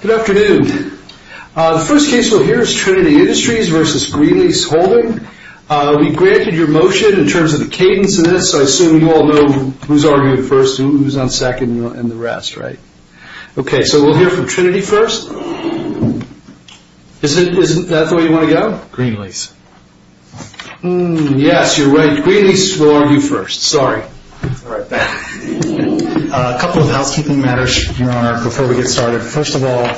Good afternoon. The first case we'll hear is Trinity Industries v. Greenlease Holding. We granted your motion in terms of the cadence of this. I assume you all know who's arguing first and who's on second and the rest, right? Okay, so we'll hear from Trinity first. Isn't that the way you want to go? Greenlease. Yes, you're right. Greenlease will argue first. Sorry. A couple of housekeeping matters, Your Honor, before we get started. First of all,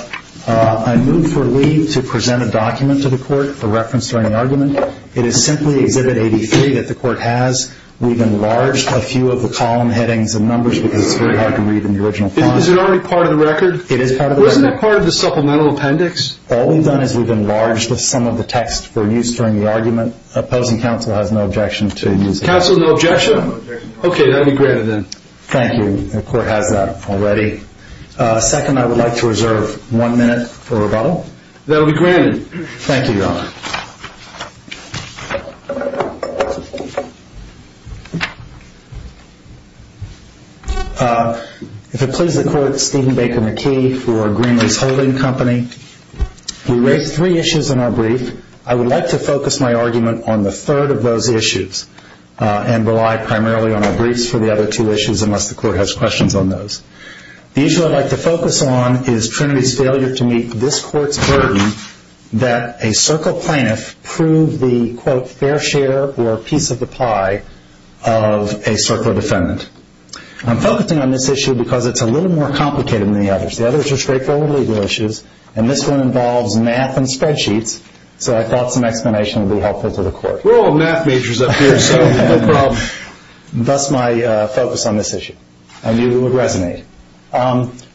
I move for Lee to present a document to the court, a reference during the argument. It is simply Exhibit 83 that the court has. We've enlarged a few of the column headings and numbers because it's very hard to read in the original content. Is it already part of the record? It is part of the record. Wasn't it part of the supplemental appendix? All we've done is we've enlarged some of the text for use during the argument. Opposing counsel has no objection to using it. Opposing counsel no objection? No objection. Okay, that will be granted then. Thank you. The court has that already. Second, I would like to reserve one minute for rebuttal. That will be granted. Thank you, Your Honor. If it pleases the court, Stephen Baker McKee for Greenlease Holding Company. He raised three issues in our brief. I would like to focus my argument on the third of those issues and rely primarily on our briefs for the other two issues unless the court has questions on those. The issue I'd like to focus on is Trinity's failure to meet this court's burden that a circle plaintiff prove the, quote, fair share or piece of the pie of a circle defendant. I'm focusing on this issue because it's a little more complicated than the others. The others are straightforward legal issues, and this one involves math and spreadsheets, so I thought some explanation would be helpful to the court. We're all math majors up here, so no problem. Thus my focus on this issue. I knew it would resonate.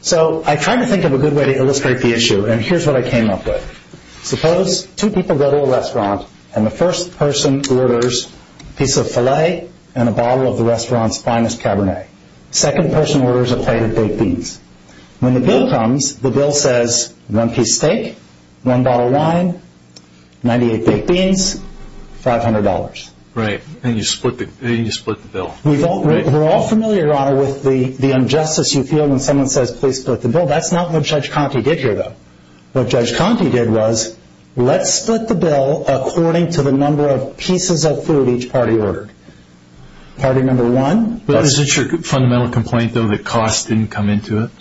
So I tried to think of a good way to illustrate the issue, and here's what I came up with. Suppose two people go to a restaurant, and the first person orders a piece of filet and a bottle of the restaurant's finest cabernet. The second person orders a plate of baked beans. When the bill comes, the bill says one piece steak, one bottle of wine, 98 baked beans, $500. Right, and you split the bill. We're all familiar, Your Honor, with the injustice you feel when someone says please split the bill. That's not what Judge Conte did here, though. What Judge Conte did was let's split the bill according to the number of pieces of food each party ordered. Party number one. Is it your fundamental complaint, though, that cost didn't come into it,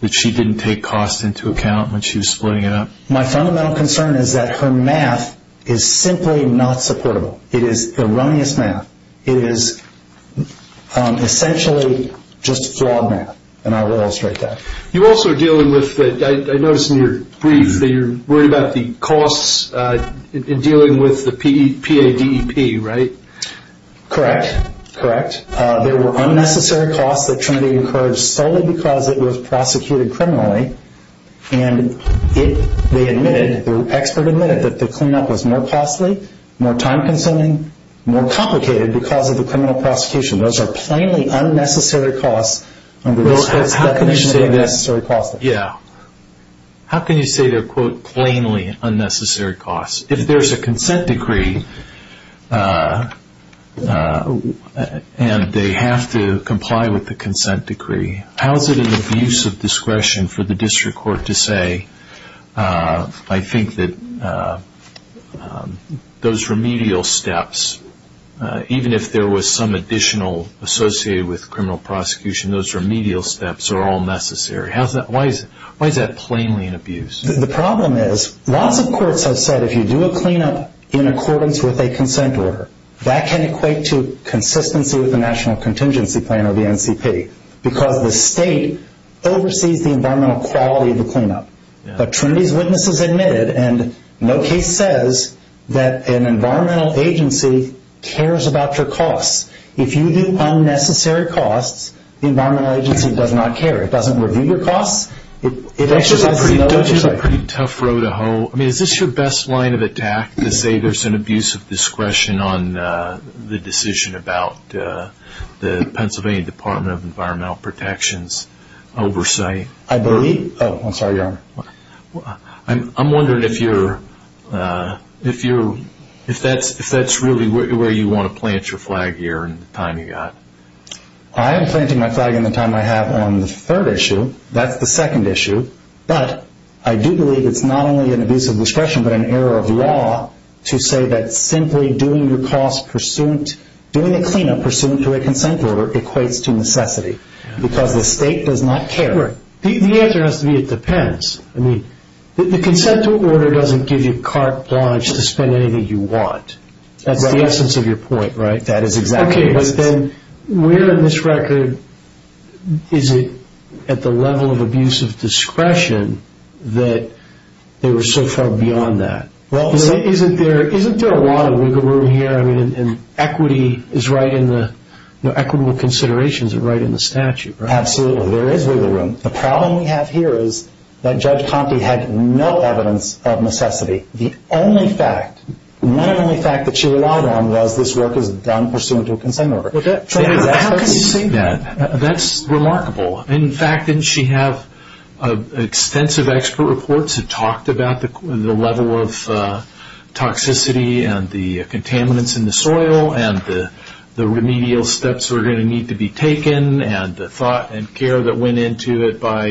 that she didn't take cost into account when she was splitting it up? My fundamental concern is that her math is simply not supportable. It is the runniest math. It is essentially just flawed math, and I will illustrate that. You also are dealing with, I noticed in your brief, that you're worried about the costs in dealing with the PADEP, right? Correct, correct. There were unnecessary costs that Trinity encouraged solely because it was prosecuted criminally, and they admitted, the expert admitted, that the cleanup was more costly, more time-consuming, more complicated because of the criminal prosecution. Those are plainly unnecessary costs under this definition of unnecessary costs. Yeah. How can you say they're, quote, plainly unnecessary costs? If there's a consent decree and they have to comply with the consent decree, how is it an abuse of discretion for the district court to say, I think that those remedial steps, even if there was some additional associated with criminal prosecution, those remedial steps are all necessary? Why is that plainly an abuse? The problem is, lots of courts have said if you do a cleanup in accordance with a consent order, that can equate to consistency with the National Contingency Plan or the NCP because the state oversees the environmental quality of the cleanup. But Trinity's witnesses admitted, and no case says, that an environmental agency cares about your costs. If you do unnecessary costs, the environmental agency does not care. It doesn't review your costs. It exercises an oversight. It's a pretty tough row to hoe. I mean, is this your best line of attack to say there's an abuse of discretion on the decision about the Pennsylvania Department of Environmental Protection's oversight? I believe. Oh, I'm sorry, Your Honor. I'm wondering if that's really where you want to plant your flag here in the time you've got. I am planting my flag in the time I have on the third issue. That's the second issue. But I do believe it's not only an abuse of discretion but an error of law to say that simply doing a cleanup pursuant to a consent order equates to necessity because the state does not care. The answer has to be it depends. I mean, the consent order doesn't give you carte blanche to spend anything you want. That is exactly what it is. Okay, but then where in this record is it at the level of abuse of discretion that they were so far beyond that? Isn't there a lot of wiggle room here? I mean, equity is right in the equitable considerations are right in the statute, right? Absolutely. There is wiggle room. The problem we have here is that Judge Conte had no evidence of necessity. The only fact, not only fact that she relied on was this work is done pursuant to a consent order. How can you say that? That's remarkable. In fact, didn't she have extensive expert reports that talked about the level of toxicity and the contaminants in the soil and the remedial steps that are going to need to be taken and the thought and care that went into it by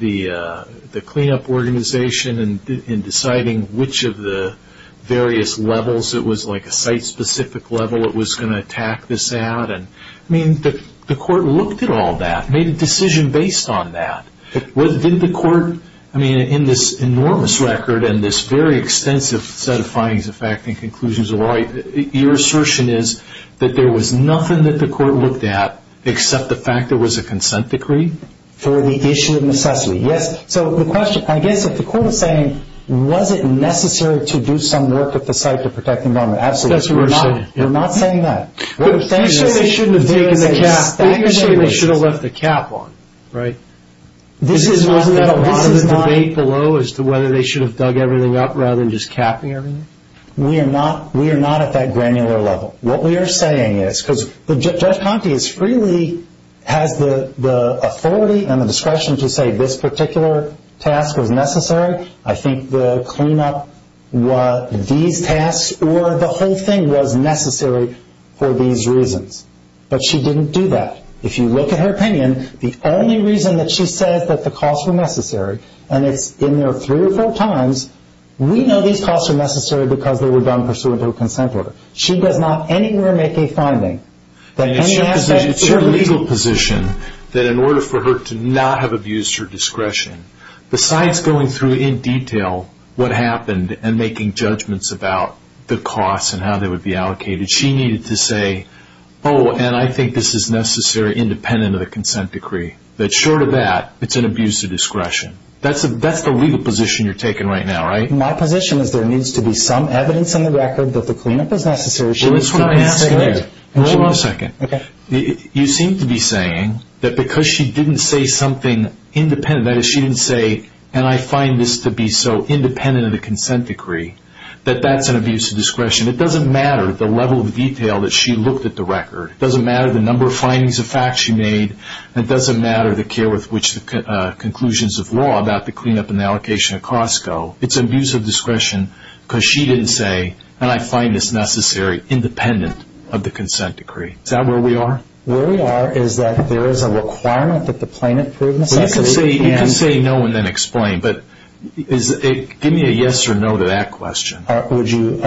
the cleanup organization in deciding which of the various levels, it was like a site-specific level it was going to attack this at. I mean, the court looked at all that, made a decision based on that. Didn't the court, I mean, in this enormous record and this very extensive set of findings of fact and conclusions, your assertion is that there was nothing that the court looked at except the fact there was a consent decree? For the issue of necessity, yes. So the question, I guess if the court is saying, was it necessary to do some work at the site to protect the environment, absolutely. That's what we're saying. We're not saying that. Thank goodness. They shouldn't have taken the cap. Thank goodness. They should have left the cap on, right? Isn't that part of the debate below as to whether they should have dug everything up rather than just capping everything? We are not at that granular level. What we are saying is, because Judge Conte is freely, has the authority and the discretion to say this particular task was necessary. I think the cleanup, these tasks, or the whole thing was necessary for these reasons. But she didn't do that. If you look at her opinion, the only reason that she said that the costs were necessary, and it's in there three or four times, we know these costs are necessary because they were done pursuant to a consent order. She does not anywhere make a finding that any aspect of the legal position that in order for her to not have abused her discretion, besides going through in detail what happened and making judgments about the costs and how they would be allocated, she needed to say, oh, and I think this is necessary independent of the consent decree. Short of that, it's an abuse of discretion. That's the legal position you're taking right now, right? My position is there needs to be some evidence in the record that the cleanup is necessary. That's what I'm asking you. Hold on a second. You seem to be saying that because she didn't say something independent, that is she didn't say, and I find this to be so independent of the consent decree, that that's an abuse of discretion. It doesn't matter the level of detail that she looked at the record. It doesn't matter the number of findings of facts she made. It doesn't matter the care with which the conclusions of law about the cleanup and the allocation of costs go. It's an abuse of discretion because she didn't say, and I find this necessary, independent of the consent decree. Is that where we are? Where we are is that there is a requirement that the plaintiff prove necessity. You can say no and then explain, but give me a yes or no to that question. Would you?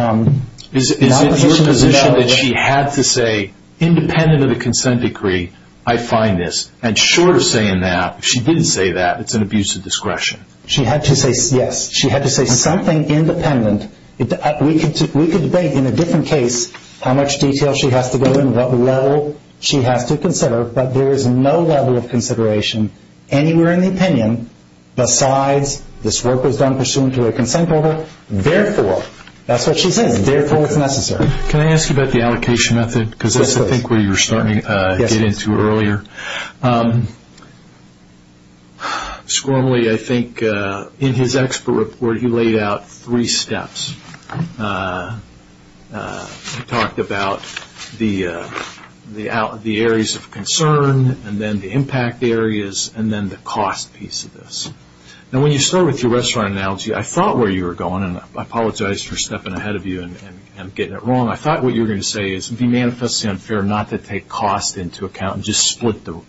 Is it your position that she had to say, independent of the consent decree, I find this, and short of saying that, if she didn't say that, it's an abuse of discretion? She had to say yes. She had to say something independent. We could debate in a different case how much detail she has to go in, what level she has to consider, but there is no level of consideration anywhere in the opinion besides this work was done pursuant to a consent order. Therefore, that's what she says, therefore it's necessary. Can I ask you about the allocation method? Yes, please. Because I think that's where you were starting to get into earlier. Yes, please. Squirmley, I think, in his expert report, he laid out three steps. He talked about the areas of concern and then the impact areas and then the cost piece of this. Now, when you start with your restaurant analogy, I thought where you were going, and I apologize for stepping ahead of you and getting it wrong. I thought what you were going to say is it would be manifestly unfair not to take cost into account and just split the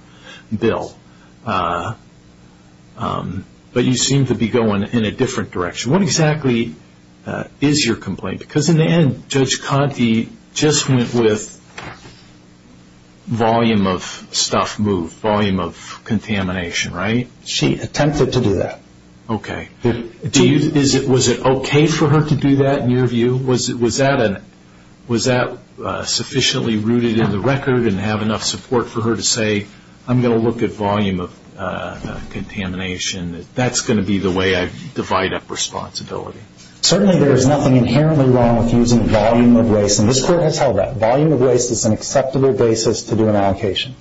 bill, but you seem to be going in a different direction. What exactly is your complaint? Because in the end, Judge Conte just went with volume of stuff moved, volume of contamination, right? She attempted to do that. Okay. Was it okay for her to do that in your view? Was that sufficiently rooted in the record and have enough support for her to say, I'm going to look at volume of contamination, that that's going to be the way I divide up responsibility? Certainly there is nothing inherently wrong with using volume of waste, and this Court has held that. Volume of waste is an acceptable basis to do an allocation.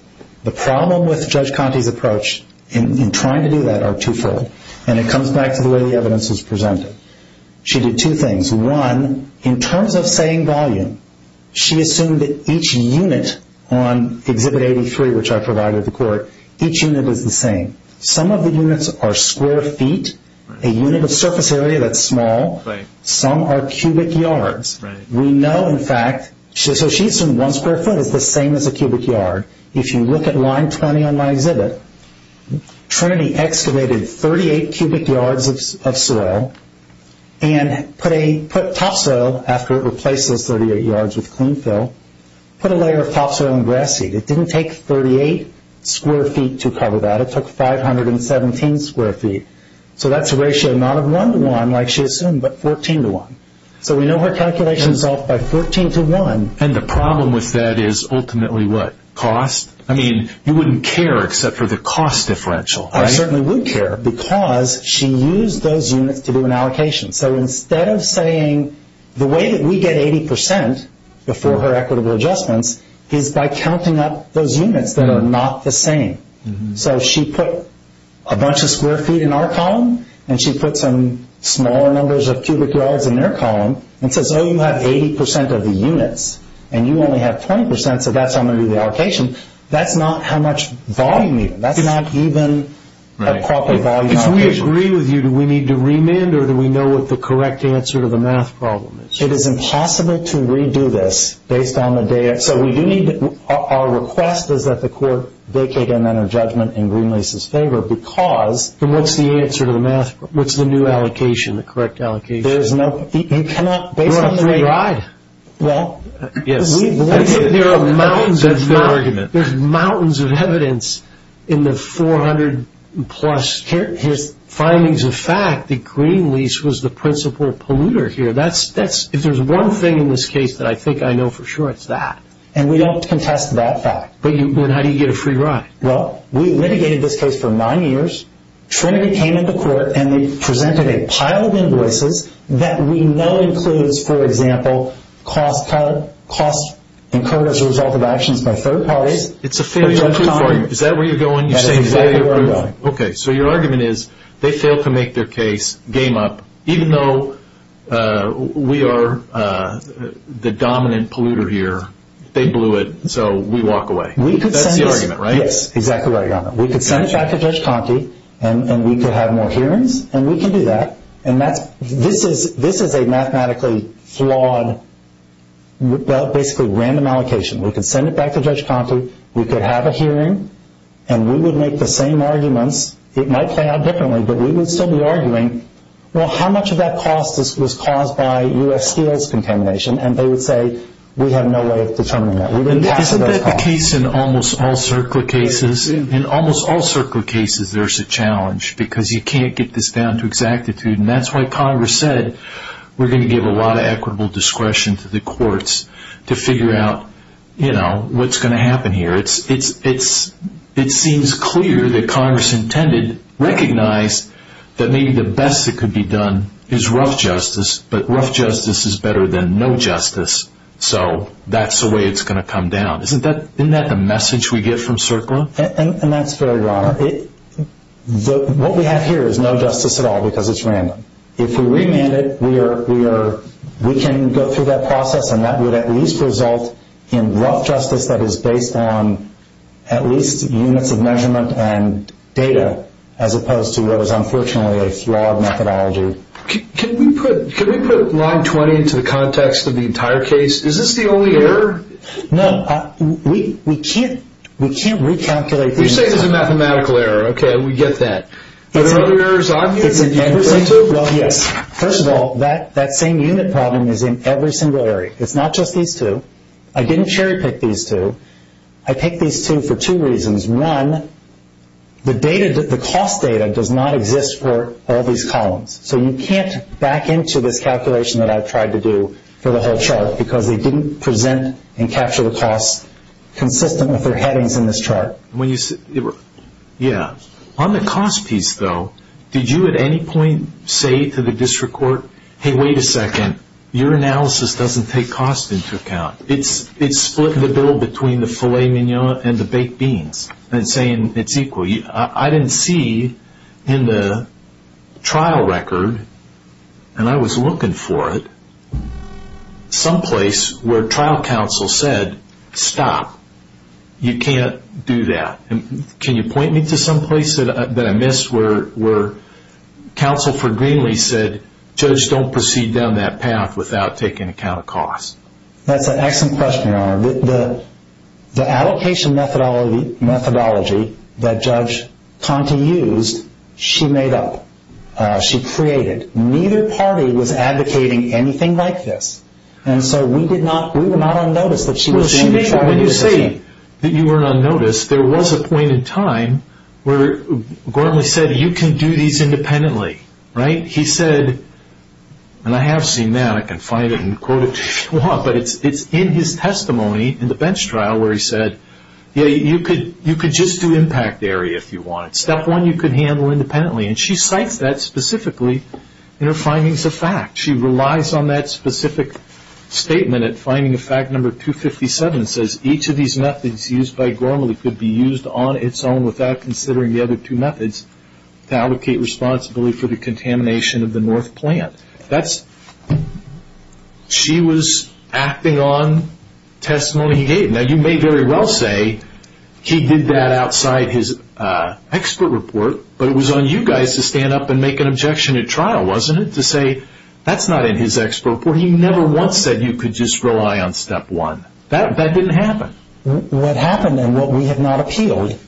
The problem with Judge Conte's approach in trying to do that are twofold, and it comes back to the way the evidence is presented. She did two things. One, in terms of saying volume, she assumed that each unit on Exhibit 83, which I provided the Court, each unit is the same. Some of the units are square feet, a unit of surface area that's small. Some are cubic yards. We know, in fact, so she assumed one square foot is the same as a cubic yard. If you look at line 20 on my exhibit, Trinity excavated 38 cubic yards of soil and put topsoil after it replaces 38 yards with clean fill, put a layer of topsoil in grass seed. It didn't take 38 square feet to cover that. It took 517 square feet. So that's a ratio not of 1 to 1 like she assumed, but 14 to 1. So we know her calculations off by 14 to 1. And the problem with that is ultimately what? Cost? I mean, you wouldn't care except for the cost differential, right? I certainly would care because she used those units to do an allocation. So instead of saying the way that we get 80% before her equitable adjustments is by counting up those units that are not the same. So she put a bunch of square feet in our column, and she put some smaller numbers of cubic yards in their column, and says, oh, you have 80% of the units, and you only have 20%, so that's how I'm going to do the allocation. That's not how much volume either. That's not even a proper volume allocation. If we agree with you, do we need to remand, or do we know what the correct answer to the math problem is? It is impossible to redo this based on the data. So we do need to – our request is that the court vacate in Greenlease's favor because – Then what's the answer to the math problem? What's the new allocation, the correct allocation? There is no – you cannot – You're a free ride. Well, yes. There are mountains of evidence in the 400-plus findings of fact that Greenlease was the principal polluter here. If there's one thing in this case that I think I know for sure, it's that. And we don't contest that fact. But how do you get a free ride? Well, we litigated this case for nine years. Trinity came into court, and they presented a pile of invoices that we know includes, for example, costs incurred as a result of actions by third parties. It's a failure proof. Is that where you're going? You're saying failure proof? That's exactly where I'm going. Okay. So your argument is they failed to make their case, game up. Even though we are the dominant polluter here, they blew it, so we walk away. That's the argument, right? Yes, exactly what I got. We could send it back to Judge Conte, and we could have more hearings, and we can do that. This is a mathematically flawed, basically random allocation. We could send it back to Judge Conte. We could have a hearing, and we would make the same arguments. It might play out differently, but we would still be arguing, well, how much of that cost was caused by U.S. Steel's contamination? And they would say, we have no way of determining that. Isn't that the case in almost all CERCLA cases? In almost all CERCLA cases, there's a challenge because you can't get this down to exactitude, and that's why Congress said we're going to give a lot of equitable discretion to the courts to figure out what's going to happen here. It seems clear that Congress intended, recognized that maybe the best that could be done is rough justice, but rough justice is better than no justice, so that's the way it's going to come down. Isn't that the message we get from CERCLA? And that's fair, Your Honor. What we have here is no justice at all because it's random. If we remand it, we can go through that process, and that would at least result in rough justice that is based on at least units of measurement and data as opposed to what is unfortunately a flawed methodology. Can we put Line 20 into the context of the entire case? Is this the only error? No. We can't recalculate the amount. You say it's a mathematical error. Okay, we get that. Are there other errors on here that you can point to? Well, yes. First of all, that same unit problem is in every single area. It's not just these two. I didn't cherry pick these two. I picked these two for two reasons. One, the cost data does not exist for all these columns, so you can't back into this calculation that I've tried to do for the whole chart because they didn't present and capture the cost consistent with their headings in this chart. Yeah. On the cost piece, though, did you at any point say to the district court, hey, wait a second, your analysis doesn't take cost into account. It's splitting the bill between the filet mignon and the baked beans and saying it's equal. I didn't see in the trial record, and I was looking for it, some place where trial counsel said, stop, you can't do that. Can you point me to some place that I missed where counsel for Greenlee said, judge, don't proceed down that path without taking account of cost? That's an excellent question, Your Honor. The allocation methodology that Judge Conte used, she made up. She created. Neither party was advocating anything like this, and so we were not on notice that she was in the trial. When you say that you were not on notice, there was a point in time where Greenlee said you can do these independently, right? He said, and I have seen that, I can find it and quote it if you want, but it's in his testimony in the bench trial where he said, yeah, you could just do impact area if you wanted. Step one, you could handle independently, and she cites that specifically in her findings of fact. She relies on that specific statement at finding of fact number 257, says each of these methods used by Greenlee could be used on its own without considering the other two methods to allocate responsibility for the contamination of the North plant. She was acting on testimony he gave. Now, you may very well say he did that outside his expert report, but it was on you guys to stand up and make an objection at trial, wasn't it? To say that's not in his expert report. He never once said you could just rely on step one. That didn't happen. What happened and what we have not appealed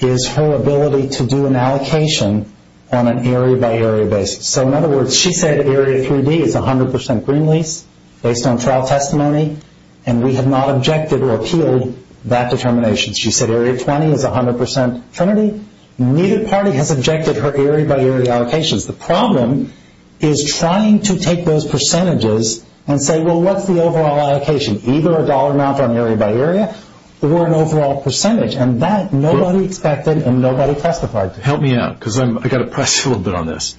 is her ability to do an allocation on an area by area basis. So in other words, she said area 3D is 100% Greenlee's based on trial testimony, and we have not objected or appealed that determination. She said area 20 is 100% Trinity. Neither party has objected her area by area allocations. The problem is trying to take those percentages and say, well, what's the overall allocation? Either a dollar amount on area by area or an overall percentage, and that nobody expected and nobody testified to. Help me out because I've got to press you a little bit on this.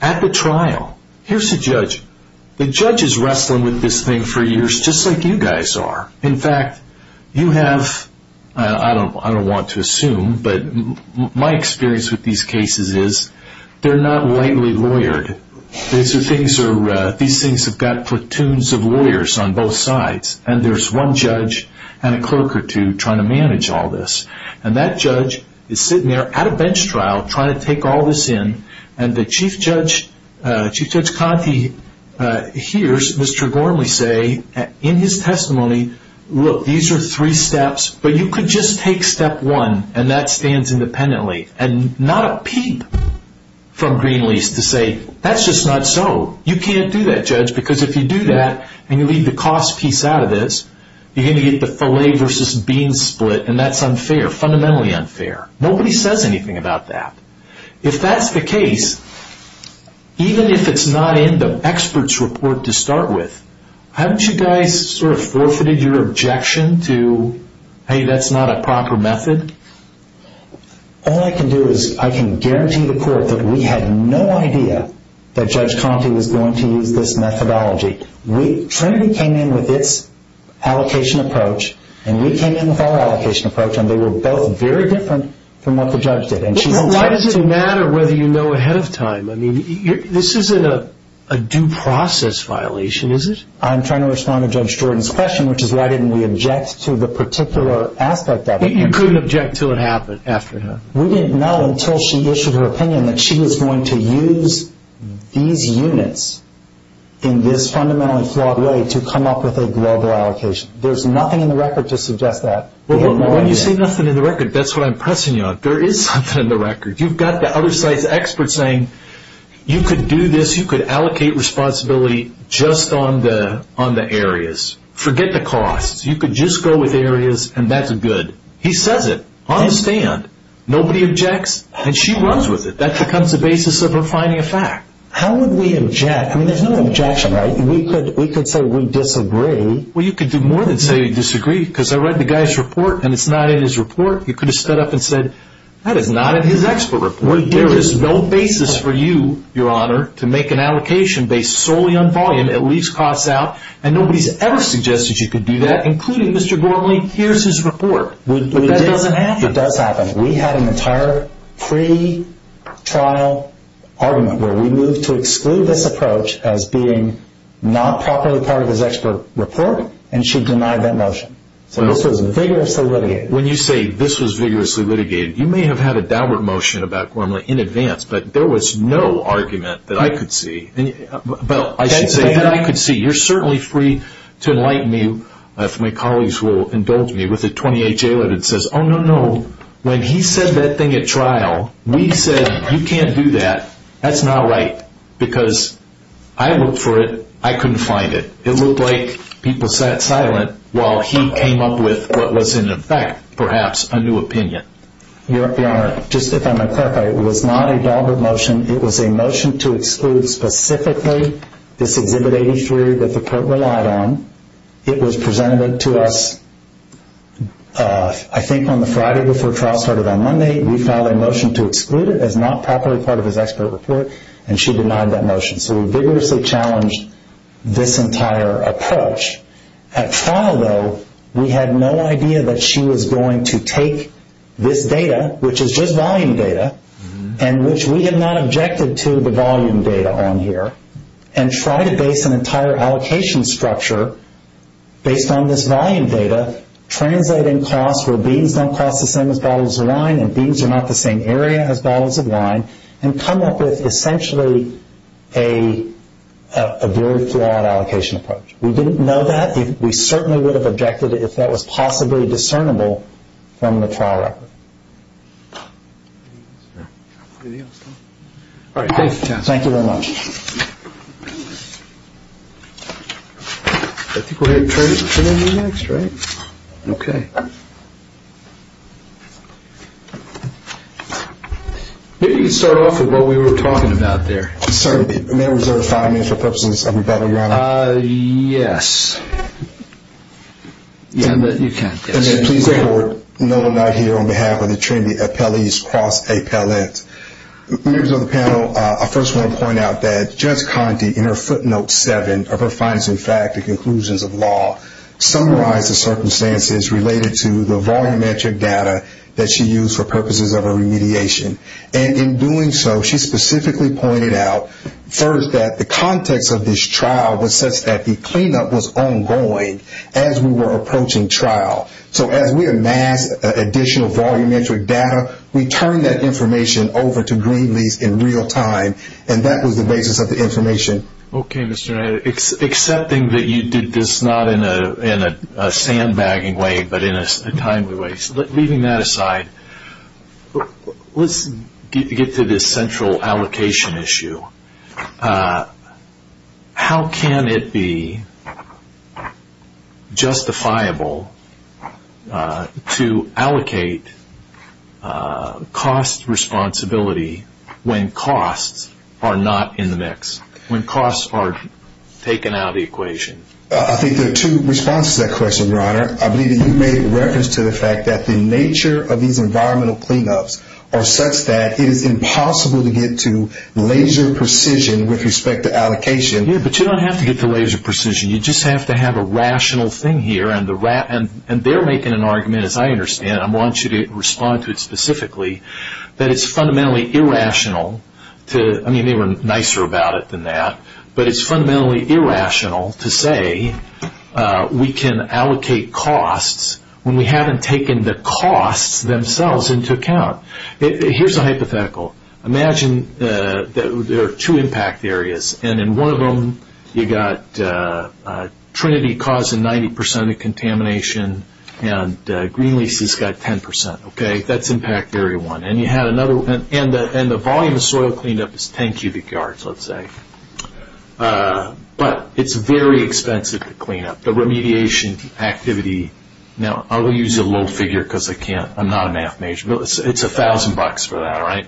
At the trial, here's the judge. The judge is wrestling with this thing for years just like you guys are. In fact, you have, I don't want to assume, but my experience with these cases is they're not lightly lawyered. These things have got platoons of lawyers on both sides, and there's one judge and a clerk or two trying to manage all this. And that judge is sitting there at a bench trial trying to take all this in, and Chief Judge Conte hears Mr. Gormley say in his testimony, look, these are three steps, but you could just take step one, and that stands independently. And not a peep from Greenleaf's to say, that's just not so. You can't do that, judge, because if you do that and you leave the cost piece out of this, you're going to get the filet versus beans split, and that's unfair, fundamentally unfair. Nobody says anything about that. If that's the case, even if it's not in the expert's report to start with, haven't you guys sort of forfeited your objection to, hey, that's not a proper method? All I can do is I can guarantee the court that we had no idea that Judge Conte was going to use this methodology. Trinity came in with its allocation approach, and we came in with our allocation approach, and they were both very different from what the judge did. Why does it matter whether you know ahead of time? I mean, this isn't a due process violation, is it? I'm trying to respond to Judge Jordan's question, which is why didn't we object to the particular aspect of it? You couldn't object until it happened, after it happened. We didn't know until she issued her opinion that she was going to use these units in this fundamentally flawed way to come up with a global allocation. There's nothing in the record to suggest that. When you say nothing in the record, that's what I'm pressing you on. There is something in the record. You've got the other side's experts saying you could do this, you could allocate responsibility just on the areas. Forget the costs. You could just go with areas, and that's good. He says it on the stand. Nobody objects, and she runs with it. That becomes the basis of her finding a fact. How would we object? I mean, there's no objection, right? We could say we disagree. Well, you could do more than say you disagree, because I read the guy's report, and it's not in his report. You could have stood up and said, that is not in his expert report. There is no basis for you, Your Honor, to make an allocation based solely on volume, at least costs out, and nobody's ever suggested you could do that, including Mr. Gormley. Here's his report. But that doesn't happen. It does happen. We had an entire pretrial argument where we moved to exclude this approach as being not properly part of his expert report, and she denied that motion. So this was vigorously litigated. When you say this was vigorously litigated, you may have had a downward motion about Gormley in advance, but there was no argument that I could see. But I should say that I could see. You're certainly free to enlighten me, if my colleagues will indulge me, with the 28 jail edits that says, oh, no, no, when he said that thing at trial, we said you can't do that. That's not right, because I looked for it. I couldn't find it. It looked like people sat silent while he came up with what was, in effect, perhaps a new opinion. Your Honor, just if I may clarify, it was not a downward motion. It was a motion to exclude specifically this Exhibit 83 that the court relied on. It was presented to us, I think, on the Friday before trial started on Monday. We filed a motion to exclude it as not properly part of his expert report, and she denied that motion. So we vigorously challenged this entire approach. At trial, though, we had no idea that she was going to take this data, which is just volume data, and which we had not objected to the volume data on here, and try to base an entire allocation structure based on this volume data, translating costs where beans don't cost the same as bottles of wine and come up with essentially a very flawed allocation approach. We didn't know that. We certainly would have objected if that was possibly discernible from the trial record. All right. Thank you very much. Thank you. I think we're going to turn it over to you next, right? Okay. Maybe you can start off with what we were talking about there. Sir, may I reserve five minutes for purposes of rebuttal, Your Honor? Yes. Yeah, but you can't. Please record, no, I'm not here on behalf of the Trinity Appellees Cross-A-Palette. Members of the panel, I first want to point out that Judge Conte, in her footnote seven of her finest in fact, the conclusions of law, summarized the circumstances related to the volumetric data that she used for purposes of her remediation. And in doing so, she specifically pointed out first that the context of this trial was such that the cleanup was ongoing as we were approaching trial. So as we amassed additional volumetric data, we turned that information over to Greenleafs in real time, and that was the basis of the information. Okay, Mr. Wright. Accepting that you did this not in a sandbagging way, but in a timely way. So leaving that aside, let's get to this central allocation issue. How can it be justifiable to allocate cost responsibility when costs are not in the mix? When costs are taken out of the equation? I think there are two responses to that question, Your Honor. I believe that you made reference to the fact that the nature of these environmental cleanups are such that it is impossible to get to laser precision with respect to allocation. Yeah, but you don't have to get to laser precision. You just have to have a rational thing here, and they're making an argument, as I understand it, and I want you to respond to it specifically, that it's fundamentally irrational to, I mean, they were nicer about it than that, but it's fundamentally irrational to say we can allocate costs when we haven't taken the costs themselves into account. Here's a hypothetical. Imagine there are two impact areas, and in one of them you've got Trinity causing 90% of the contamination, and Greenleaf's got 10%, okay? That's impact area one. And you had another one, and the volume of soil cleanup is 10 cubic yards, let's say. But it's very expensive to clean up. The remediation activity, now I'll use a low figure because I'm not a math major, but it's $1,000 for that, right?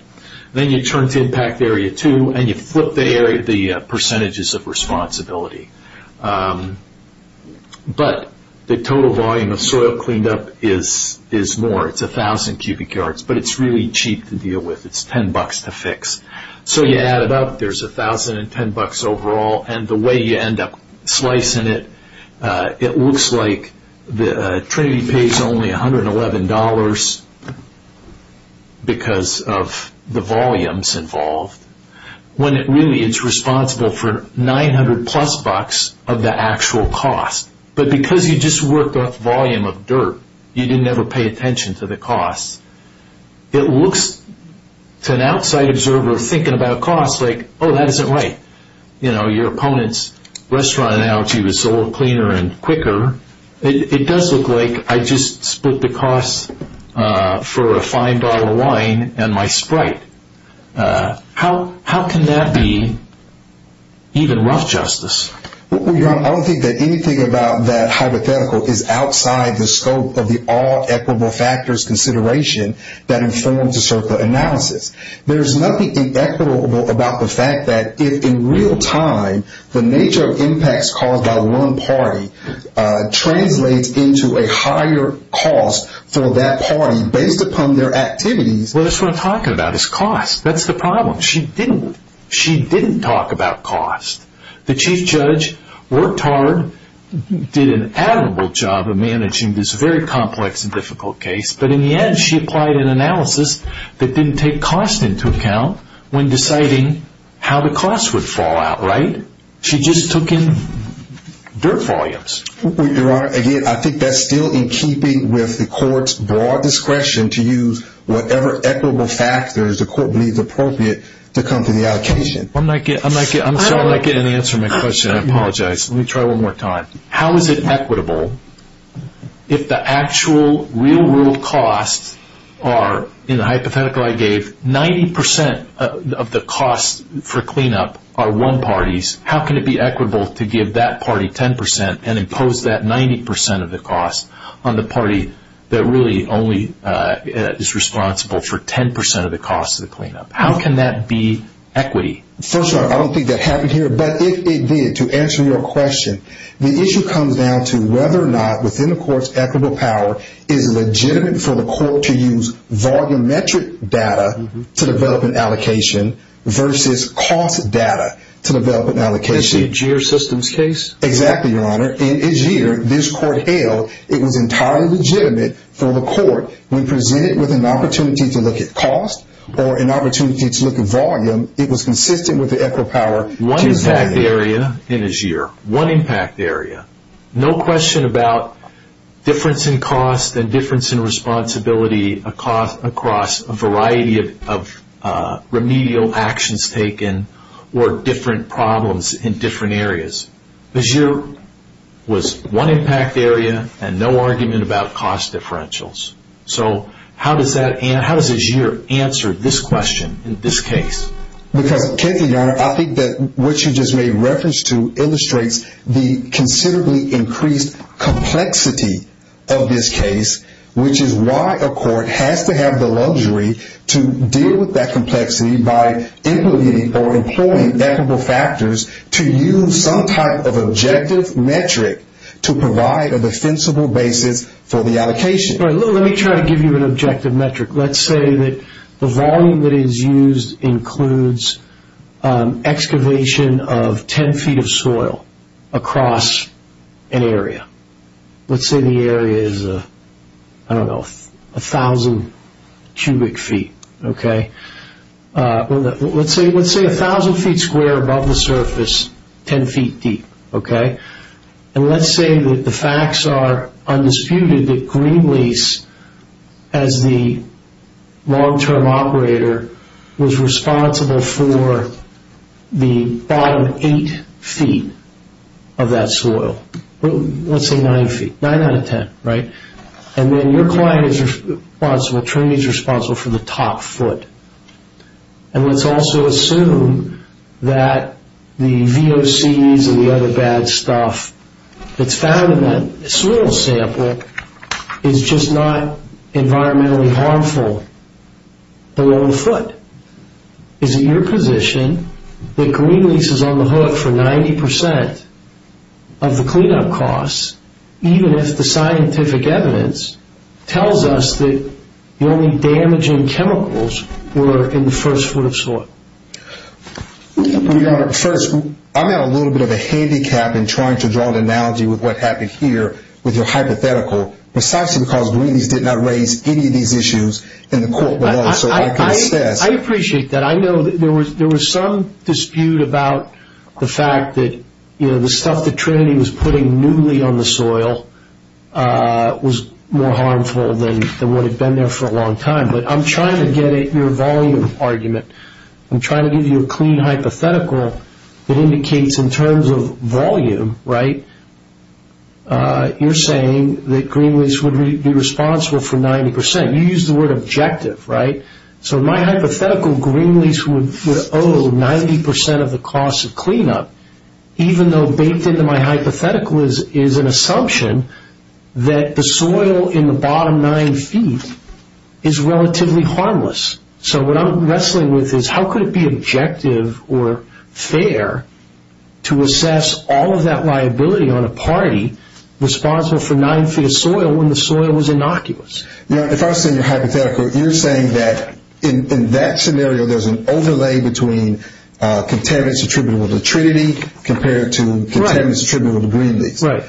Then you turn to impact area two, and you flip the percentages of responsibility. But the total volume of soil cleaned up is more. It's 1,000 cubic yards, but it's really cheap to deal with. It's $10 to fix. So you add it up. There's $1,000 and $10 overall, and the way you end up slicing it, it looks like Trinity pays only $111 because of the volumes involved, when really it's responsible for 900-plus bucks of the actual cost. But because you just worked off the volume of dirt, you didn't ever pay attention to the costs. It looks to an outside observer thinking about costs like, oh, that isn't right. Your opponent's restaurant analogy was soil cleaner and quicker. It does look like I just split the costs for a fine bottle of wine and my sprite. How can that be even rough justice? Well, Your Honor, I don't think that anything about that hypothetical is outside the scope of the all-equitable factors consideration that informed the CERCLA analysis. There's nothing inequitable about the fact that if, in real time, the nature of impacts caused by one party translates into a higher cost for that party based upon their activities. What I just want to talk about is cost. That's the problem. She didn't talk about cost. The chief judge worked hard, did an admirable job of managing this very complex and difficult case, but in the end she applied an analysis that didn't take cost into account when deciding how the cost would fall out, right? She just took in dirt volumes. Your Honor, again, I think that's still in keeping with the court's broad discretion to use whatever equitable factors the court believes appropriate to come to the allocation. I'm not getting an answer to my question. I apologize. Let me try one more time. How is it equitable if the actual real world costs are, in the hypothetical I gave, 90% of the costs for cleanup are one party's? How can it be equitable to give that party 10% and impose that 90% of the cost on the party that really only is responsible for 10% of the cost of the cleanup? How can that be equity? First of all, I don't think that happened here. But if it did, to answer your question, the issue comes down to whether or not within the court's equitable power is legitimate for the court to use volumetric data to develop an allocation versus cost data to develop an allocation. This is the AGIER systems case? Exactly, Your Honor. In AGIER, this court held it was entirely legitimate for the court, when presented with an opportunity to look at cost or an opportunity to look at volume, it was consistent with the equitable power One impact area in AGIER. One impact area. No question about difference in cost and difference in responsibility across a variety of remedial actions taken or different problems in different areas. AGIER was one impact area and no argument about cost differentials. How does AGIER answer this question in this case? Because, Kenzie, Your Honor, I think what you just made reference to illustrates the considerably increased complexity of this case, which is why a court has to have the luxury to deal with that complexity by implementing or employing equitable factors to use some type of objective metric to provide a defensible basis for the allocation. Let me try to give you an objective metric. Let's say that the volume that is used includes excavation of 10 feet of soil across an area. Let's say the area is, I don't know, 1,000 cubic feet. Let's say 1,000 feet square above the surface, 10 feet deep. And let's say that the facts are undisputed that Greenlease, as the long-term operator, was responsible for the bottom 8 feet of that soil. Let's say 9 feet, 9 out of 10, right? And then your client is responsible, attorney is responsible for the top foot. And let's also assume that the VOCs and the other bad stuff that's found in that soil sample is just not environmentally harmful below the foot. Is it your position that Greenlease is on the hook for 90% of the cleanup costs, even if the scientific evidence tells us that the only damaging chemicals were in the first foot of soil? Your Honor, first, I'm at a little bit of a handicap in trying to draw an analogy with what happened here with your hypothetical precisely because Greenlease did not raise any of these issues in the court below. So I can assess. I appreciate that. I know that there was some dispute about the fact that the stuff that Trinity was putting newly on the soil was more harmful than what had been there for a long time. But I'm trying to get at your volume argument. I'm trying to give you a clean hypothetical that indicates in terms of volume, right, you're saying that Greenlease would be responsible for 90%. You used the word objective, right? So my hypothetical, Greenlease would owe 90% of the cost of cleanup, even though baked into my hypothetical is an assumption that the soil in the bottom nine feet is relatively harmless. So what I'm wrestling with is how could it be objective or fair to assess all of that liability on a party responsible for nine feet of soil when the soil was innocuous? You know, if I was saying your hypothetical, you're saying that in that scenario there's an overlay between contaminants attributable to Trinity compared to contaminants attributable to Greenlease. Right.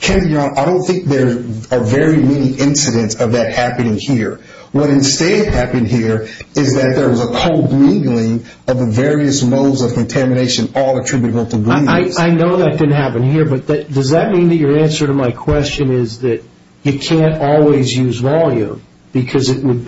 Ken, I don't think there are very many incidents of that happening here. What instead happened here is that there was a co-mingling of the various modes of contamination all attributable to Greenlease. I know that didn't happen here, but does that mean that your answer to my question is that you can't always use volume because it would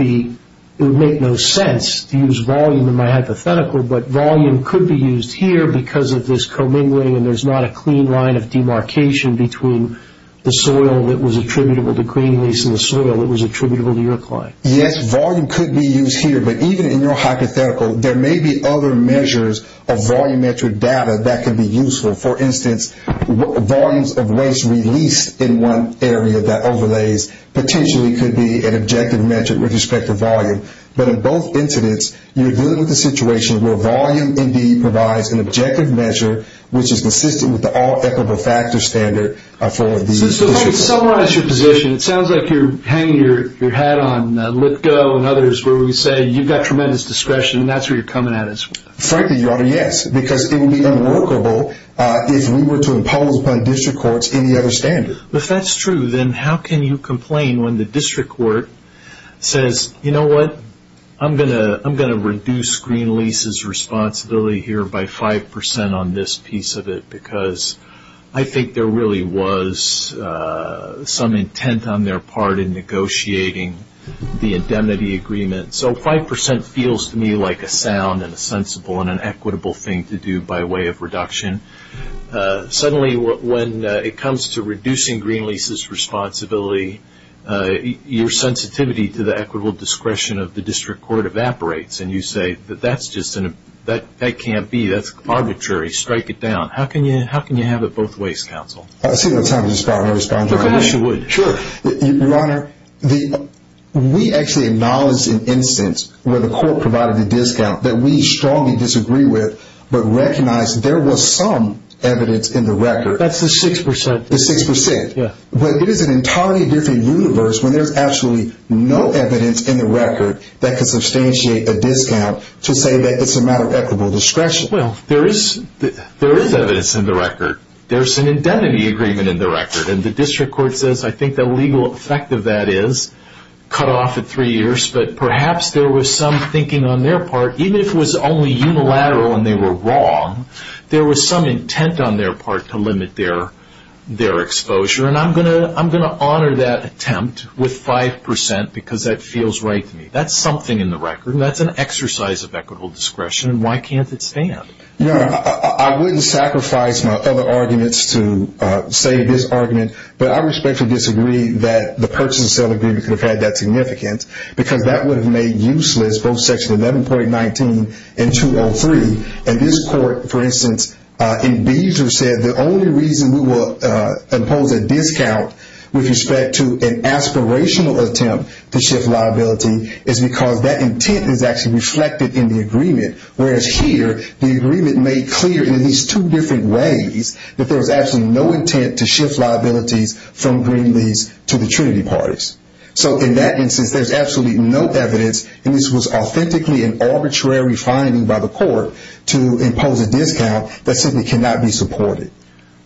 make no sense to use volume in my hypothetical, but volume could be used here because of this co-mingling and there's not a clean line of demarcation between the soil that was attributable to Greenlease and the soil that was attributable to your client. Yes, volume could be used here, but even in your hypothetical, there may be other measures of volumetric data that could be useful. For instance, volumes of waste released in one area that overlays potentially could be an objective metric with respect to volume. But in both incidents, you're dealing with a situation where volume indeed provides an objective measure which is consistent with the all-equitable factor standard for these issues. So if I could summarize your position, it sounds like you're hanging your hat on LitGo and others where we say you've got tremendous discretion and that's where you're coming at as well. Frankly, your Honor, yes, because it would be unworkable if we were to impose upon district courts any other standard. If that's true, then how can you complain when the district court says, you know what, I'm going to reduce Greenlease's responsibility here by 5% on this piece of it because I think there really was some intent on their part in negotiating the indemnity agreement. So 5% feels to me like a sound and a sensible and an equitable thing to do by way of reduction. Suddenly when it comes to reducing Greenlease's responsibility, your sensitivity to the equitable discretion of the district court evaporates and you say that that can't be, that's arbitrary, strike it down. How can you have it both ways, counsel? I see no time to respond. Of course you would. Your Honor, we actually acknowledge an instance where the court provided a discount that we strongly disagree with but recognize there was some evidence in the record. That's the 6%. The 6%. Yeah. But it is an entirely different universe when there's absolutely no evidence in the record that could substantiate a discount to say that it's a matter of equitable discretion. Well, there is evidence in the record. There's an indemnity agreement in the record and the district court says I think the legal effect of that is cut off at three years but perhaps there was some thinking on their part, even if it was only unilateral and they were wrong, there was some intent on their part to limit their exposure and I'm going to honor that attempt with 5% because that feels right to me. That's something in the record and that's an exercise of equitable discretion and why can't it stand? Your Honor, I wouldn't sacrifice my other arguments to say this argument but I respectfully disagree that the purchase and sale agreement could have had that significance because that would have made useless both Section 11.19 and 203. And this court, for instance, in Beazer said the only reason we will impose a discount with respect to an aspirational attempt to shift liability is because that intent is actually reflected in the agreement whereas here the agreement made clear in at least two different ways that there was absolutely no intent to shift liabilities from Greenlees to the Trinity parties. So in that instance, there's absolutely no evidence and this was authentically an arbitrary finding by the court to impose a discount that simply cannot be supported.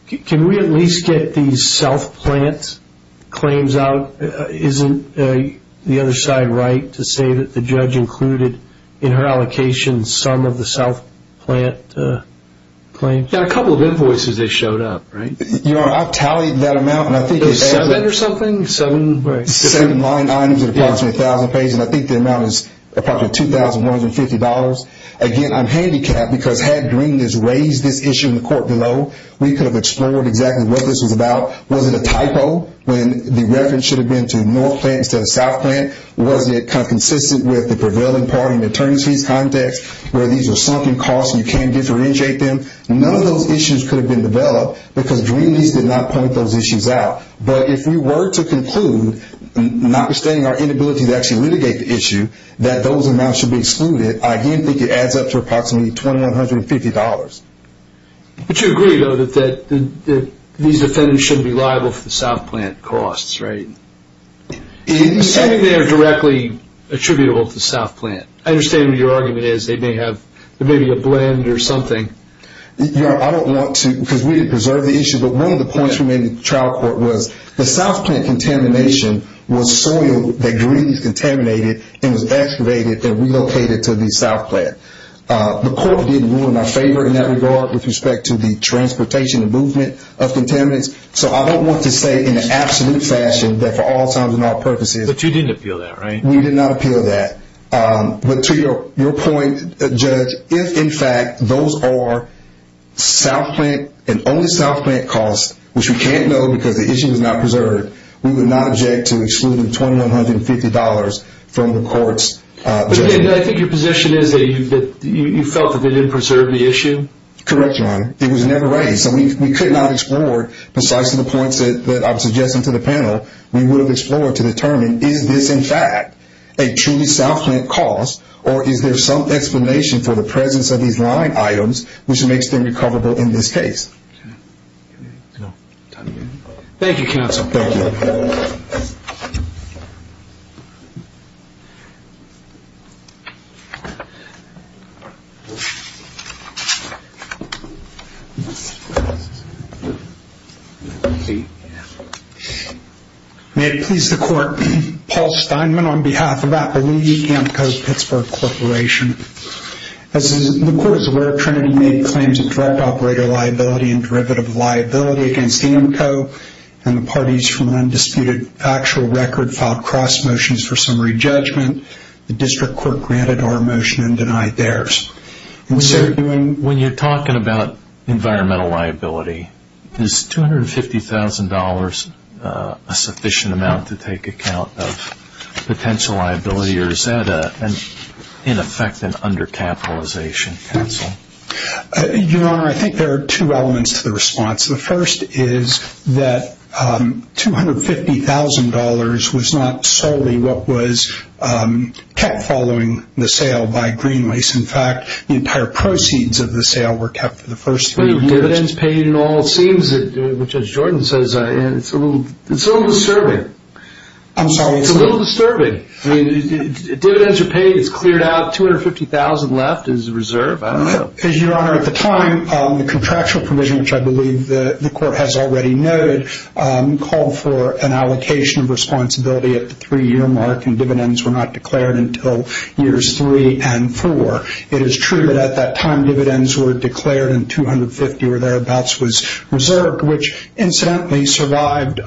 Can we at least get the self-plant claims out? Isn't the other side right to say that the judge included in her allocation some of the self-plant claims? Yeah, a couple of invoices that showed up, right? Your Honor, I've tallied that amount. Seven or something? Seven line items at approximately $1,000 a page and I think the amount is approximately $2,150. Again, I'm handicapped because had Greenlees raised this issue in the court below, we could have explored exactly what this was about. Was it a typo when the reference should have been to North Plant instead of South Plant? Was it kind of consistent with the prevailing party in the attorneys' fees context where these are something costs and you can't differentiate them? None of those issues could have been developed because Greenlees did not point those issues out. But if we were to conclude, notwithstanding our inability to actually litigate the issue, that those amounts should be excluded, I do think it adds up to approximately $2,150. But you agree, though, that these defendants shouldn't be liable for the South Plant costs, right? Assuming they are directly attributable to South Plant. I understand what your argument is. They may be a blend or something. Your Honor, I don't want to, because we didn't preserve the issue, but one of the points we made in the trial court was the South Plant contamination was soil that Greenlees contaminated and was excavated and relocated to the South Plant. The court didn't rule in our favor in that regard with respect to the transportation and movement of contaminants. So I don't want to say in an absolute fashion that for all times and all purposes. But you didn't appeal that, right? We did not appeal that. But to your point, Judge, if, in fact, those are South Plant and only South Plant costs, which we can't know because the issue was not preserved, we would not object to excluding $2,150 from the court's judgment. I think your position is that you felt that they didn't preserve the issue. Correct, Your Honor. It was never raised. So we could not explore precisely the points that I was suggesting to the panel. We would have explored to determine is this, in fact, a truly South Plant cost or is there some explanation for the presence of these line items, which makes them recoverable in this case. Thank you, Counsel. Thank you. Thank you. May it please the Court, Paul Steinman on behalf of Appaloogie AMCO Pittsburgh Corporation. As the Court is aware, Trinity made claims of direct operator liability and derivative liability against AMCO and the parties from an undisputed actual record filed cross motions for summary judgment. The district court granted our motion and denied theirs. When you're talking about environmental liability, is $250,000 a sufficient amount to take account of potential liability or is that, in effect, an undercapitalization counsel? Your Honor, I think there are two elements to the response. The first is that $250,000 was not solely what was kept following the sale by GreenWaste. In fact, the entire proceeds of the sale were kept for the first three years. Dividends paid in all seems, which as Jordan says, it's a little disturbing. I'm sorry. It's a little disturbing. Dividends are paid. It's cleared out. $250,000 left is a reserve. I don't know. Your Honor, at the time, the contractual provision, which I believe the Court has already noted, called for an allocation of responsibility at the three-year mark and dividends were not declared until years three and four. It is true that at that time dividends were declared and $250,000 or thereabouts was reserved, which incidentally survived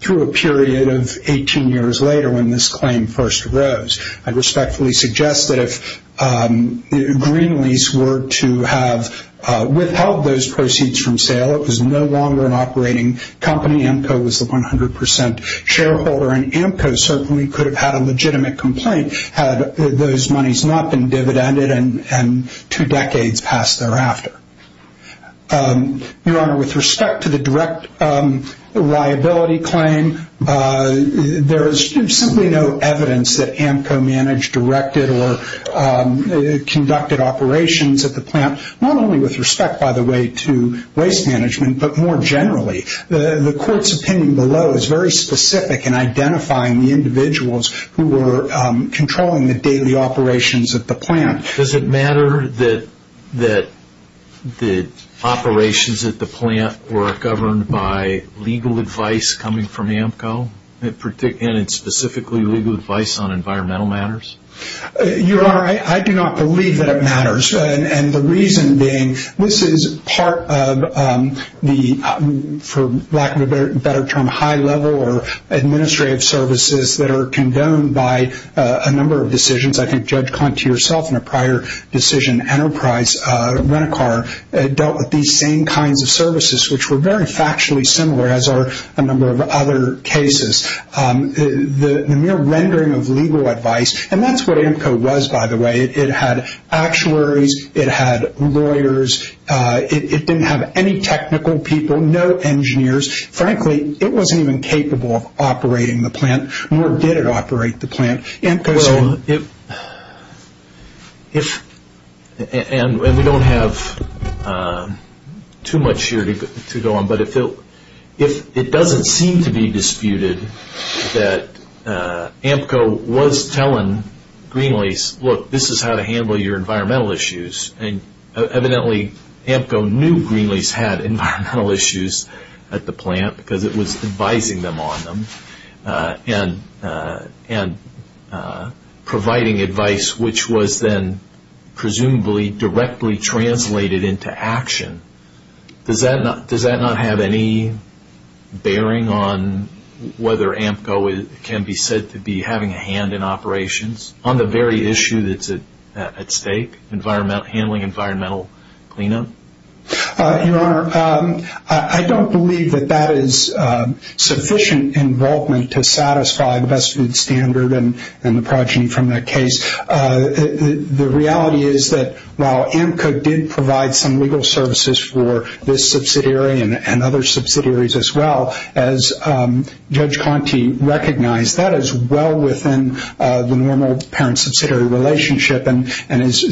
through a period of 18 years later when this claim first arose. I respectfully suggest that if GreenWaste were to have withheld those proceeds from sale, it was no longer an operating company. Amco was the 100% shareholder, and Amco certainly could have had a legitimate complaint had those monies not been dividended and two decades passed thereafter. Your Honor, with respect to the direct liability claim, there is simply no evidence that Amco managed, directed, or conducted operations at the plant, not only with respect, by the way, to waste management, but more generally. The Court's opinion below is very specific in identifying the individuals who were controlling the daily operations at the plant. Does it matter that the operations at the plant were governed by legal advice coming from Amco, and specifically legal advice on environmental matters? Your Honor, I do not believe that it matters. The reason being, this is part of the, for lack of a better term, high-level or administrative services that are condoned by a number of decisions. I think Judge Conti herself in a prior decision, Enterprise Rent-A-Car, dealt with these same kinds of services, which were very factually similar as are a number of other cases. The mere rendering of legal advice, and that's what Amco was, by the way. It had actuaries. It had lawyers. It didn't have any technical people, no engineers. Frankly, it wasn't even capable of operating the plant, nor did it operate the plant. And we don't have too much here to go on, but it doesn't seem to be disputed that Amco was telling Greenlease, look, this is how to handle your environmental issues. Evidently, Amco knew Greenlease had environmental issues at the plant, because it was advising them on them and providing advice, which was then presumably directly translated into action. Does that not have any bearing on whether Amco can be said to be having a hand in operations on the very issue that's at stake, handling environmental cleanup? Your Honor, I don't believe that that is sufficient involvement to satisfy the best food standard and the progeny from that case. The reality is that while Amco did provide some legal services for this subsidiary and other subsidiaries as well, as Judge Conte recognized, that is well within the normal parent-subsidiary relationship and does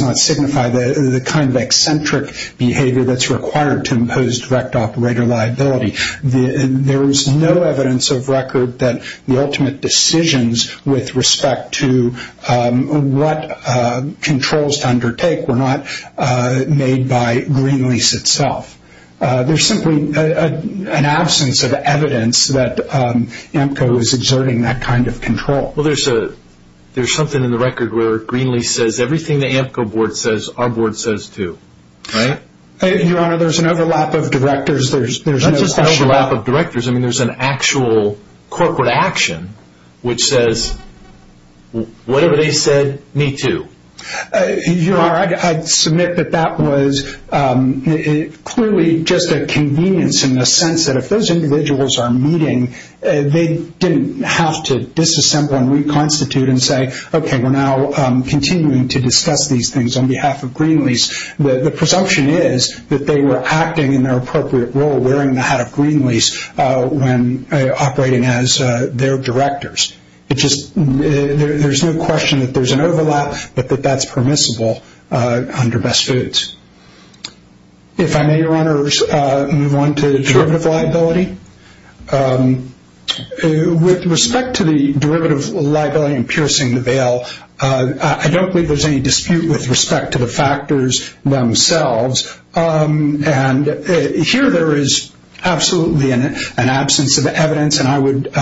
not signify the kind of eccentric behavior that's required to impose direct operator liability. There is no evidence of record that the ultimate decisions with respect to what controls to undertake were not made by Greenlease itself. There's simply an absence of evidence that Amco is exerting that kind of control. Well, there's something in the record where Greenlease says, everything the Amco board says, our board says too, right? Your Honor, there's an overlap of directors. That's just an overlap of directors. I mean, there's an actual corporate action which says, whatever they said, me too. Your Honor, I'd submit that that was clearly just a convenience in the sense that if those individuals are meeting, they didn't have to disassemble and reconstitute and say, okay, we're now continuing to discuss these things on behalf of Greenlease. The presumption is that they were acting in their appropriate role, wearing the hat of Greenlease when operating as their directors. There's no question that there's an overlap, but that that's permissible under Best Foods. If I may, Your Honors, move on to derivative liability. With respect to the derivative liability in piercing the bail, I don't believe there's any dispute with respect to the factors themselves. Here there is absolutely an absence of evidence, and I would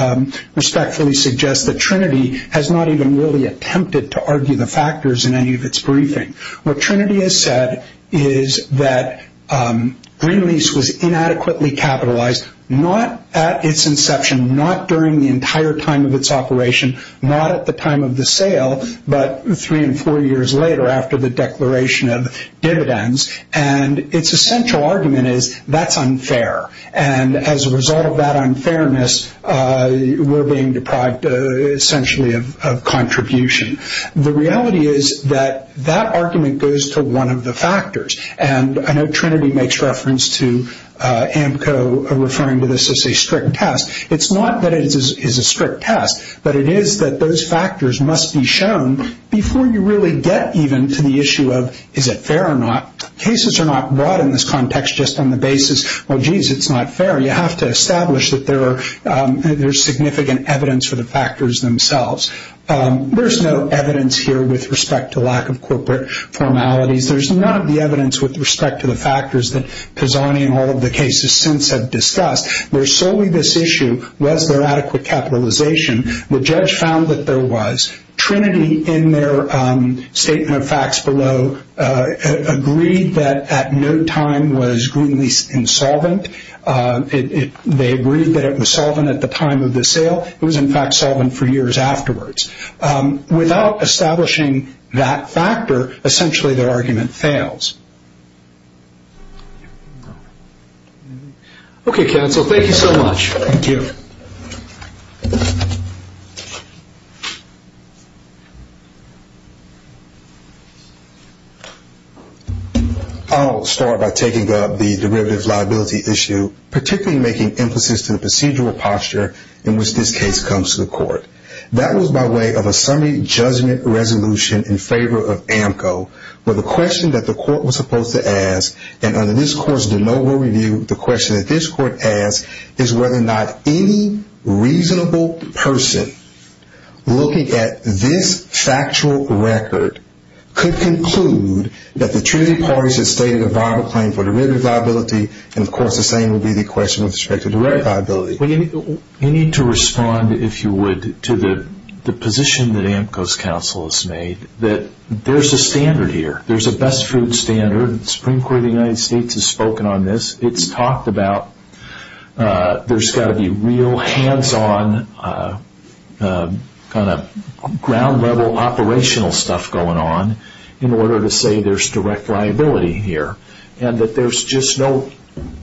respectfully suggest that Trinity has not even really attempted to argue the factors in any of its briefing. What Trinity has said is that Greenlease was inadequately capitalized not at its inception, not during the entire time of its operation, not at the time of the sale, but three and four years later after the declaration of dividends, and its essential argument is that's unfair, and as a result of that unfairness, we're being deprived essentially of contribution. The reality is that that argument goes to one of the factors, and I know Trinity makes reference to AMCO referring to this as a strict test. It's not that it is a strict test, but it is that those factors must be shown before you really get even to the issue of is it fair or not. Cases are not brought in this context just on the basis, well, geez, it's not fair. You have to establish that there's significant evidence for the factors themselves. There's no evidence here with respect to lack of corporate formalities. There's none of the evidence with respect to the factors that Pisani and all of the cases since have discussed. There's solely this issue, was there adequate capitalization? The judge found that there was. Trinity in their statement of facts below agreed that at no time was Greenlease insolvent. They agreed that it was solvent at the time of the sale. It was, in fact, solvent for years afterwards. Without establishing that factor, essentially their argument fails. Okay, counsel, thank you so much. Thank you. I'll start by taking up the derivative liability issue, particularly making emphasis to the procedural posture in which this case comes to the court. That was by way of a summary judgment resolution in favor of AMCO, where the question that the court was supposed to ask, and under this court's de novo review, the question that this court asked is whether or not any reasonable person looking at this factual record could conclude that the Trinity parties had stated a viable claim for derivative liability, and, of course, the same would be the question with respect to direct liability. You need to respond, if you would, to the position that AMCO's counsel has made, that there's a standard here. There's a best food standard. The Supreme Court of the United States has spoken on this. It's talked about there's got to be real hands-on kind of ground-level operational stuff going on in order to say there's direct liability here, and that there's just no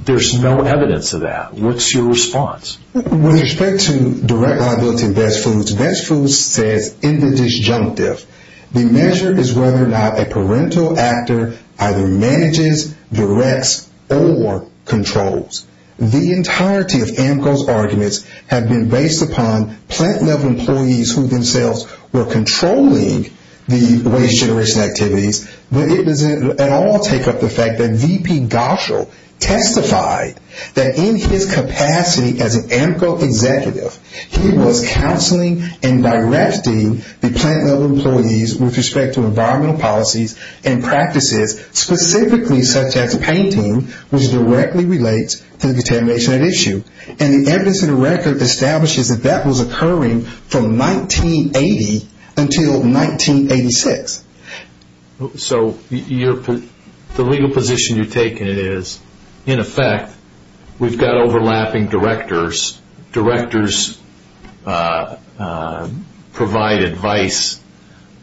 evidence of that. What's your response? With respect to direct liability and best foods, best foods says in the disjunctive, the measure is whether or not a parental actor either manages, directs, or controls. The entirety of AMCO's arguments have been based upon plant-level employees who themselves were controlling the waste generation activities, but it doesn't at all take up the fact that V.P. Goschel testified that in his capacity as an AMCO executive, he was counseling and directing the plant-level employees with respect to environmental policies and practices specifically such as painting, which directly relates to the contamination at issue. The evidence in the record establishes that that was occurring from 1980 until 1986. So the legal position you're taking is, in effect, we've got overlapping directors. Directors provide advice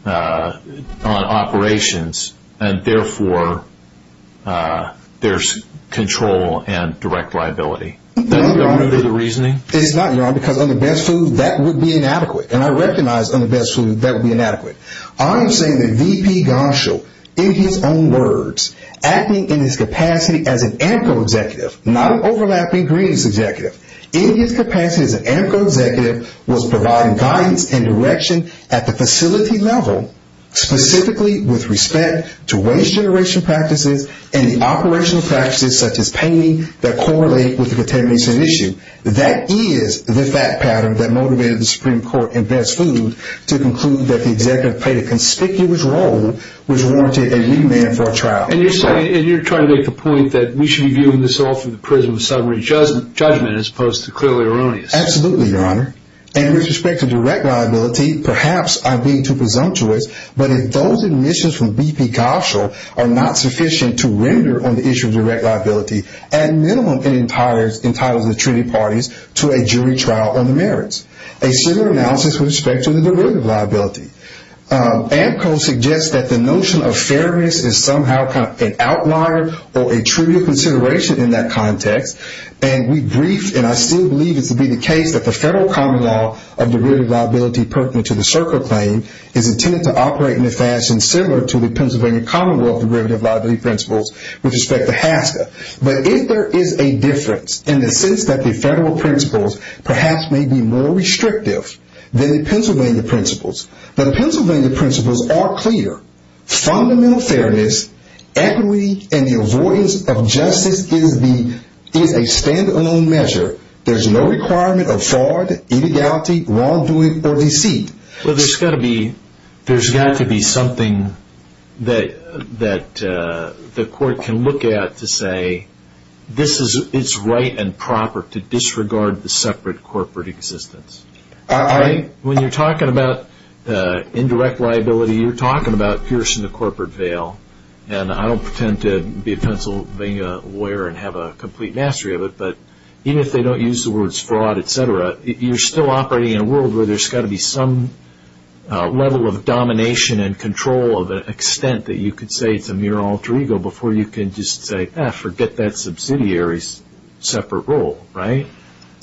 on operations, and therefore, there's control and direct liability. Doesn't that move to the reasoning? It's not, Your Honor, because on the best foods, that would be inadequate, and I recognize on the best foods that would be inadequate. I am saying that V.P. Goschel, in his own words, acting in his capacity as an AMCO executive, not an overlapping greens executive, in his capacity as an AMCO executive, was providing guidance and direction at the facility level specifically with respect to waste generation practices and the operational practices such as painting that correlate with the contamination at issue. That is the fact pattern that motivated the Supreme Court in best foods to conclude that the executive played a conspicuous role which warranted a remand for a trial. And you're trying to make the point that we should be viewing this all from the prism of summary judgment as opposed to clearly erroneous. Absolutely, Your Honor. And with respect to direct liability, perhaps I'm being too presumptuous, but if those admissions from V.P. Goschel are not sufficient to render on the issue of direct liability, at minimum it entitles the treaty parties to a jury trial on the merits, a similar analysis with respect to the derivative liability. AMCO suggests that the notion of fairness is somehow an outlier or a trivial consideration in that context, and we briefed, and I still believe it to be the case, that the federal common law of derivative liability pertinent to the SERCA claim is intended to operate in a fashion similar to the Pennsylvania Commonwealth derivative liability principles with respect to HASCA. But if there is a difference in the sense that the federal principles perhaps may be more restrictive than the Pennsylvania principles, the Pennsylvania principles are clear. Fundamental fairness, equity, and the avoidance of justice is a stand-alone measure. There's no requirement of fraud, illegality, wrongdoing, or deceit. Well, there's got to be something that the court can look at to say this is its right and proper to disregard the separate corporate existence. When you're talking about indirect liability, you're talking about piercing the corporate veil, and I don't pretend to be a Pennsylvania lawyer and have a complete mastery of it, but even if they don't use the words fraud, et cetera, you're still operating in a world where there's got to be some level of domination and control of an extent that you could say it's a mere alter ego before you can just say, ah, forget that subsidiary's separate role, right?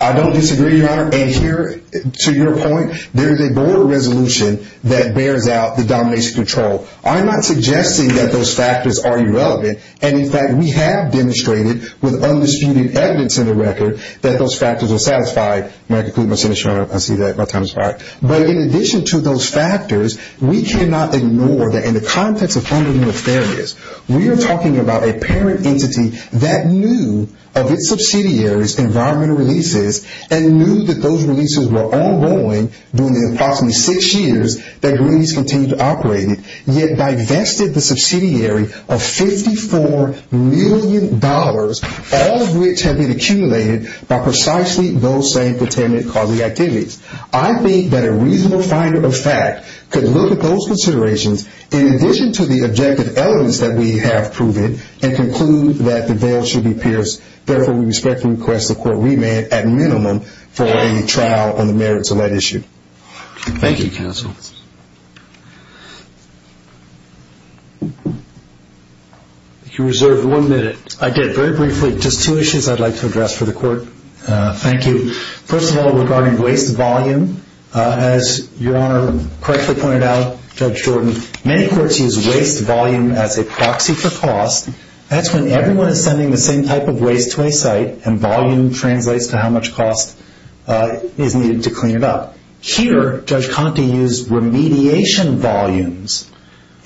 I don't disagree, Your Honor, and here, to your point, there is a board resolution that bears out the domination control. I'm not suggesting that those factors are irrelevant, and, in fact, we have demonstrated with undisputed evidence in the record that those factors are satisfied. May I conclude my sentence, Your Honor? I see that my time has expired. But in addition to those factors, we cannot ignore that in the context of fundamental fairness, we are talking about a parent entity that knew of its subsidiary's environmental releases and knew that those releases were ongoing during the approximately six years that Greenpeace continued to operate, yet divested the subsidiary of $54 million, all of which had been accumulated by precisely those same containment-causing activities. I think that a reasonable finder of fact could look at those considerations, in addition to the objective evidence that we have proven, and conclude that the veil should be pierced. Therefore, we respectfully request the court remand at minimum for a trial on the merits of that issue. Thank you, counsel. If you reserve one minute. I did. Very briefly, just two issues I'd like to address for the court. Thank you. First of all, regarding waste volume, as Your Honor correctly pointed out, Judge Jordan, many courts use waste volume as a proxy for cost. That's when everyone is sending the same type of waste to a site, and volume translates to how much cost is needed to clean it up. Here, Judge Conte used remediation volumes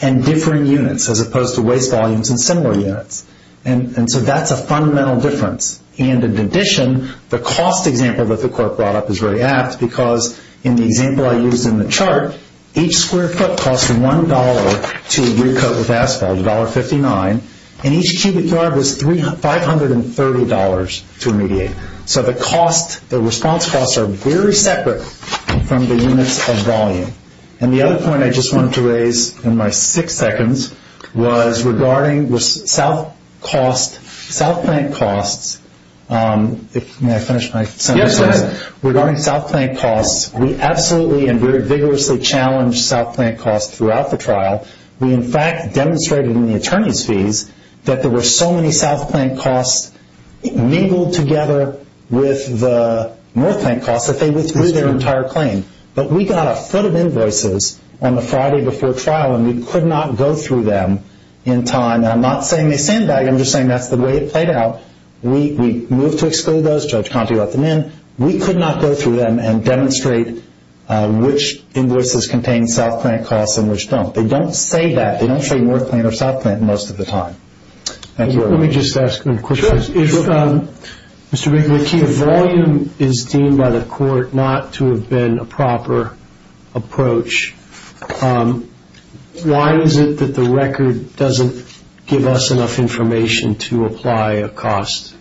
and differing units, as opposed to waste volumes and similar units. That's a fundamental difference. In addition, the cost example that the court brought up is very apt, because in the example I used in the chart, each square foot costs $1 to recoat with asphalt, $1.59, and each cubic yard was $530 to remediate. The response costs are very separate from the units of volume. The other point I just wanted to raise in my six seconds was regarding south plant costs. May I finish my sentence? Yes, go ahead. Regarding south plant costs, we absolutely and very vigorously challenged south plant costs throughout the trial. We, in fact, demonstrated in the attorney's fees that there were so many south plant costs mingled together with the north plant costs that they withdrew their entire claim. But we got a foot of invoices on the Friday before trial, and we could not go through them in time. I'm not saying they sandbagged. I'm just saying that's the way it played out. We moved to exclude those. Judge Conte let them in. We could not go through them and demonstrate which invoices contained south plant costs and which don't. They don't say that. They don't say north plant or south plant most of the time. Thank you. Let me just ask a question. If volume is deemed by the court not to have been a proper approach, why is it that the record doesn't give us enough information to apply a cost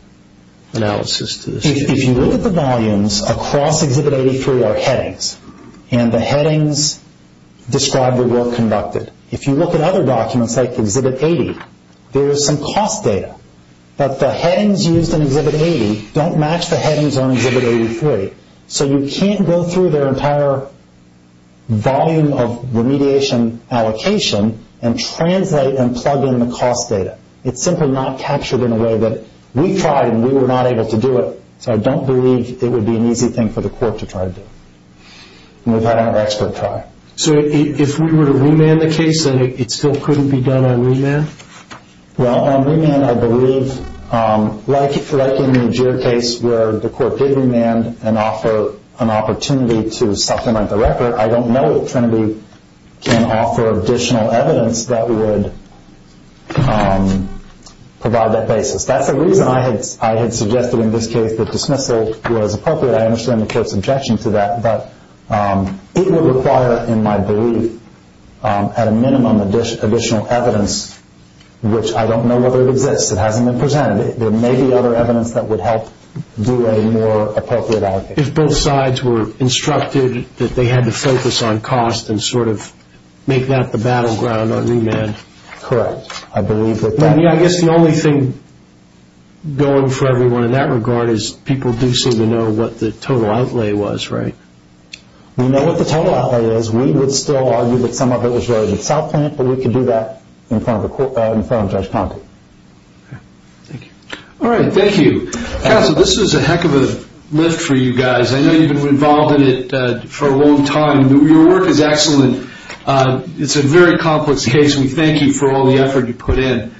analysis to this? If you look at the volumes, across Exhibit 83 are headings, and the headings describe the work conducted. If you look at other documents like Exhibit 80, there is some cost data. But the headings used in Exhibit 80 don't match the headings on Exhibit 83. So you can't go through their entire volume of remediation allocation and translate and plug in the cost data. It's simply not captured in a way that we tried and we were not able to do it. So I don't believe it would be an easy thing for the court to try to do. We've had our expert try. So if we were to remand the case, then it still couldn't be done on remand? Well, on remand I believe, like in the Jeer case where the court did remand and offer an opportunity to supplement the record, I don't know if Trinity can offer additional evidence that would provide that basis. That's the reason I had suggested in this case that dismissal was appropriate. I understand the court's objection to that. But it would require, in my belief, at a minimum additional evidence, which I don't know whether it exists. It hasn't been presented. There may be other evidence that would help do a more appropriate allocation. If both sides were instructed that they had to focus on cost and sort of make that the battleground on remand. Correct. I believe that. I guess the only thing going for everyone in that regard is people do seem to know what the total outlay was, right? We know what the total outlay is. We would still argue that some of it was related to South Plant, but we can do that in front of Judge Pompey. Thank you. All right, thank you. Counsel, this is a heck of a lift for you guys. I know you've been involved in it for a long time. Your work is excellent. It's a very complex case. We thank you for all the effort you put in.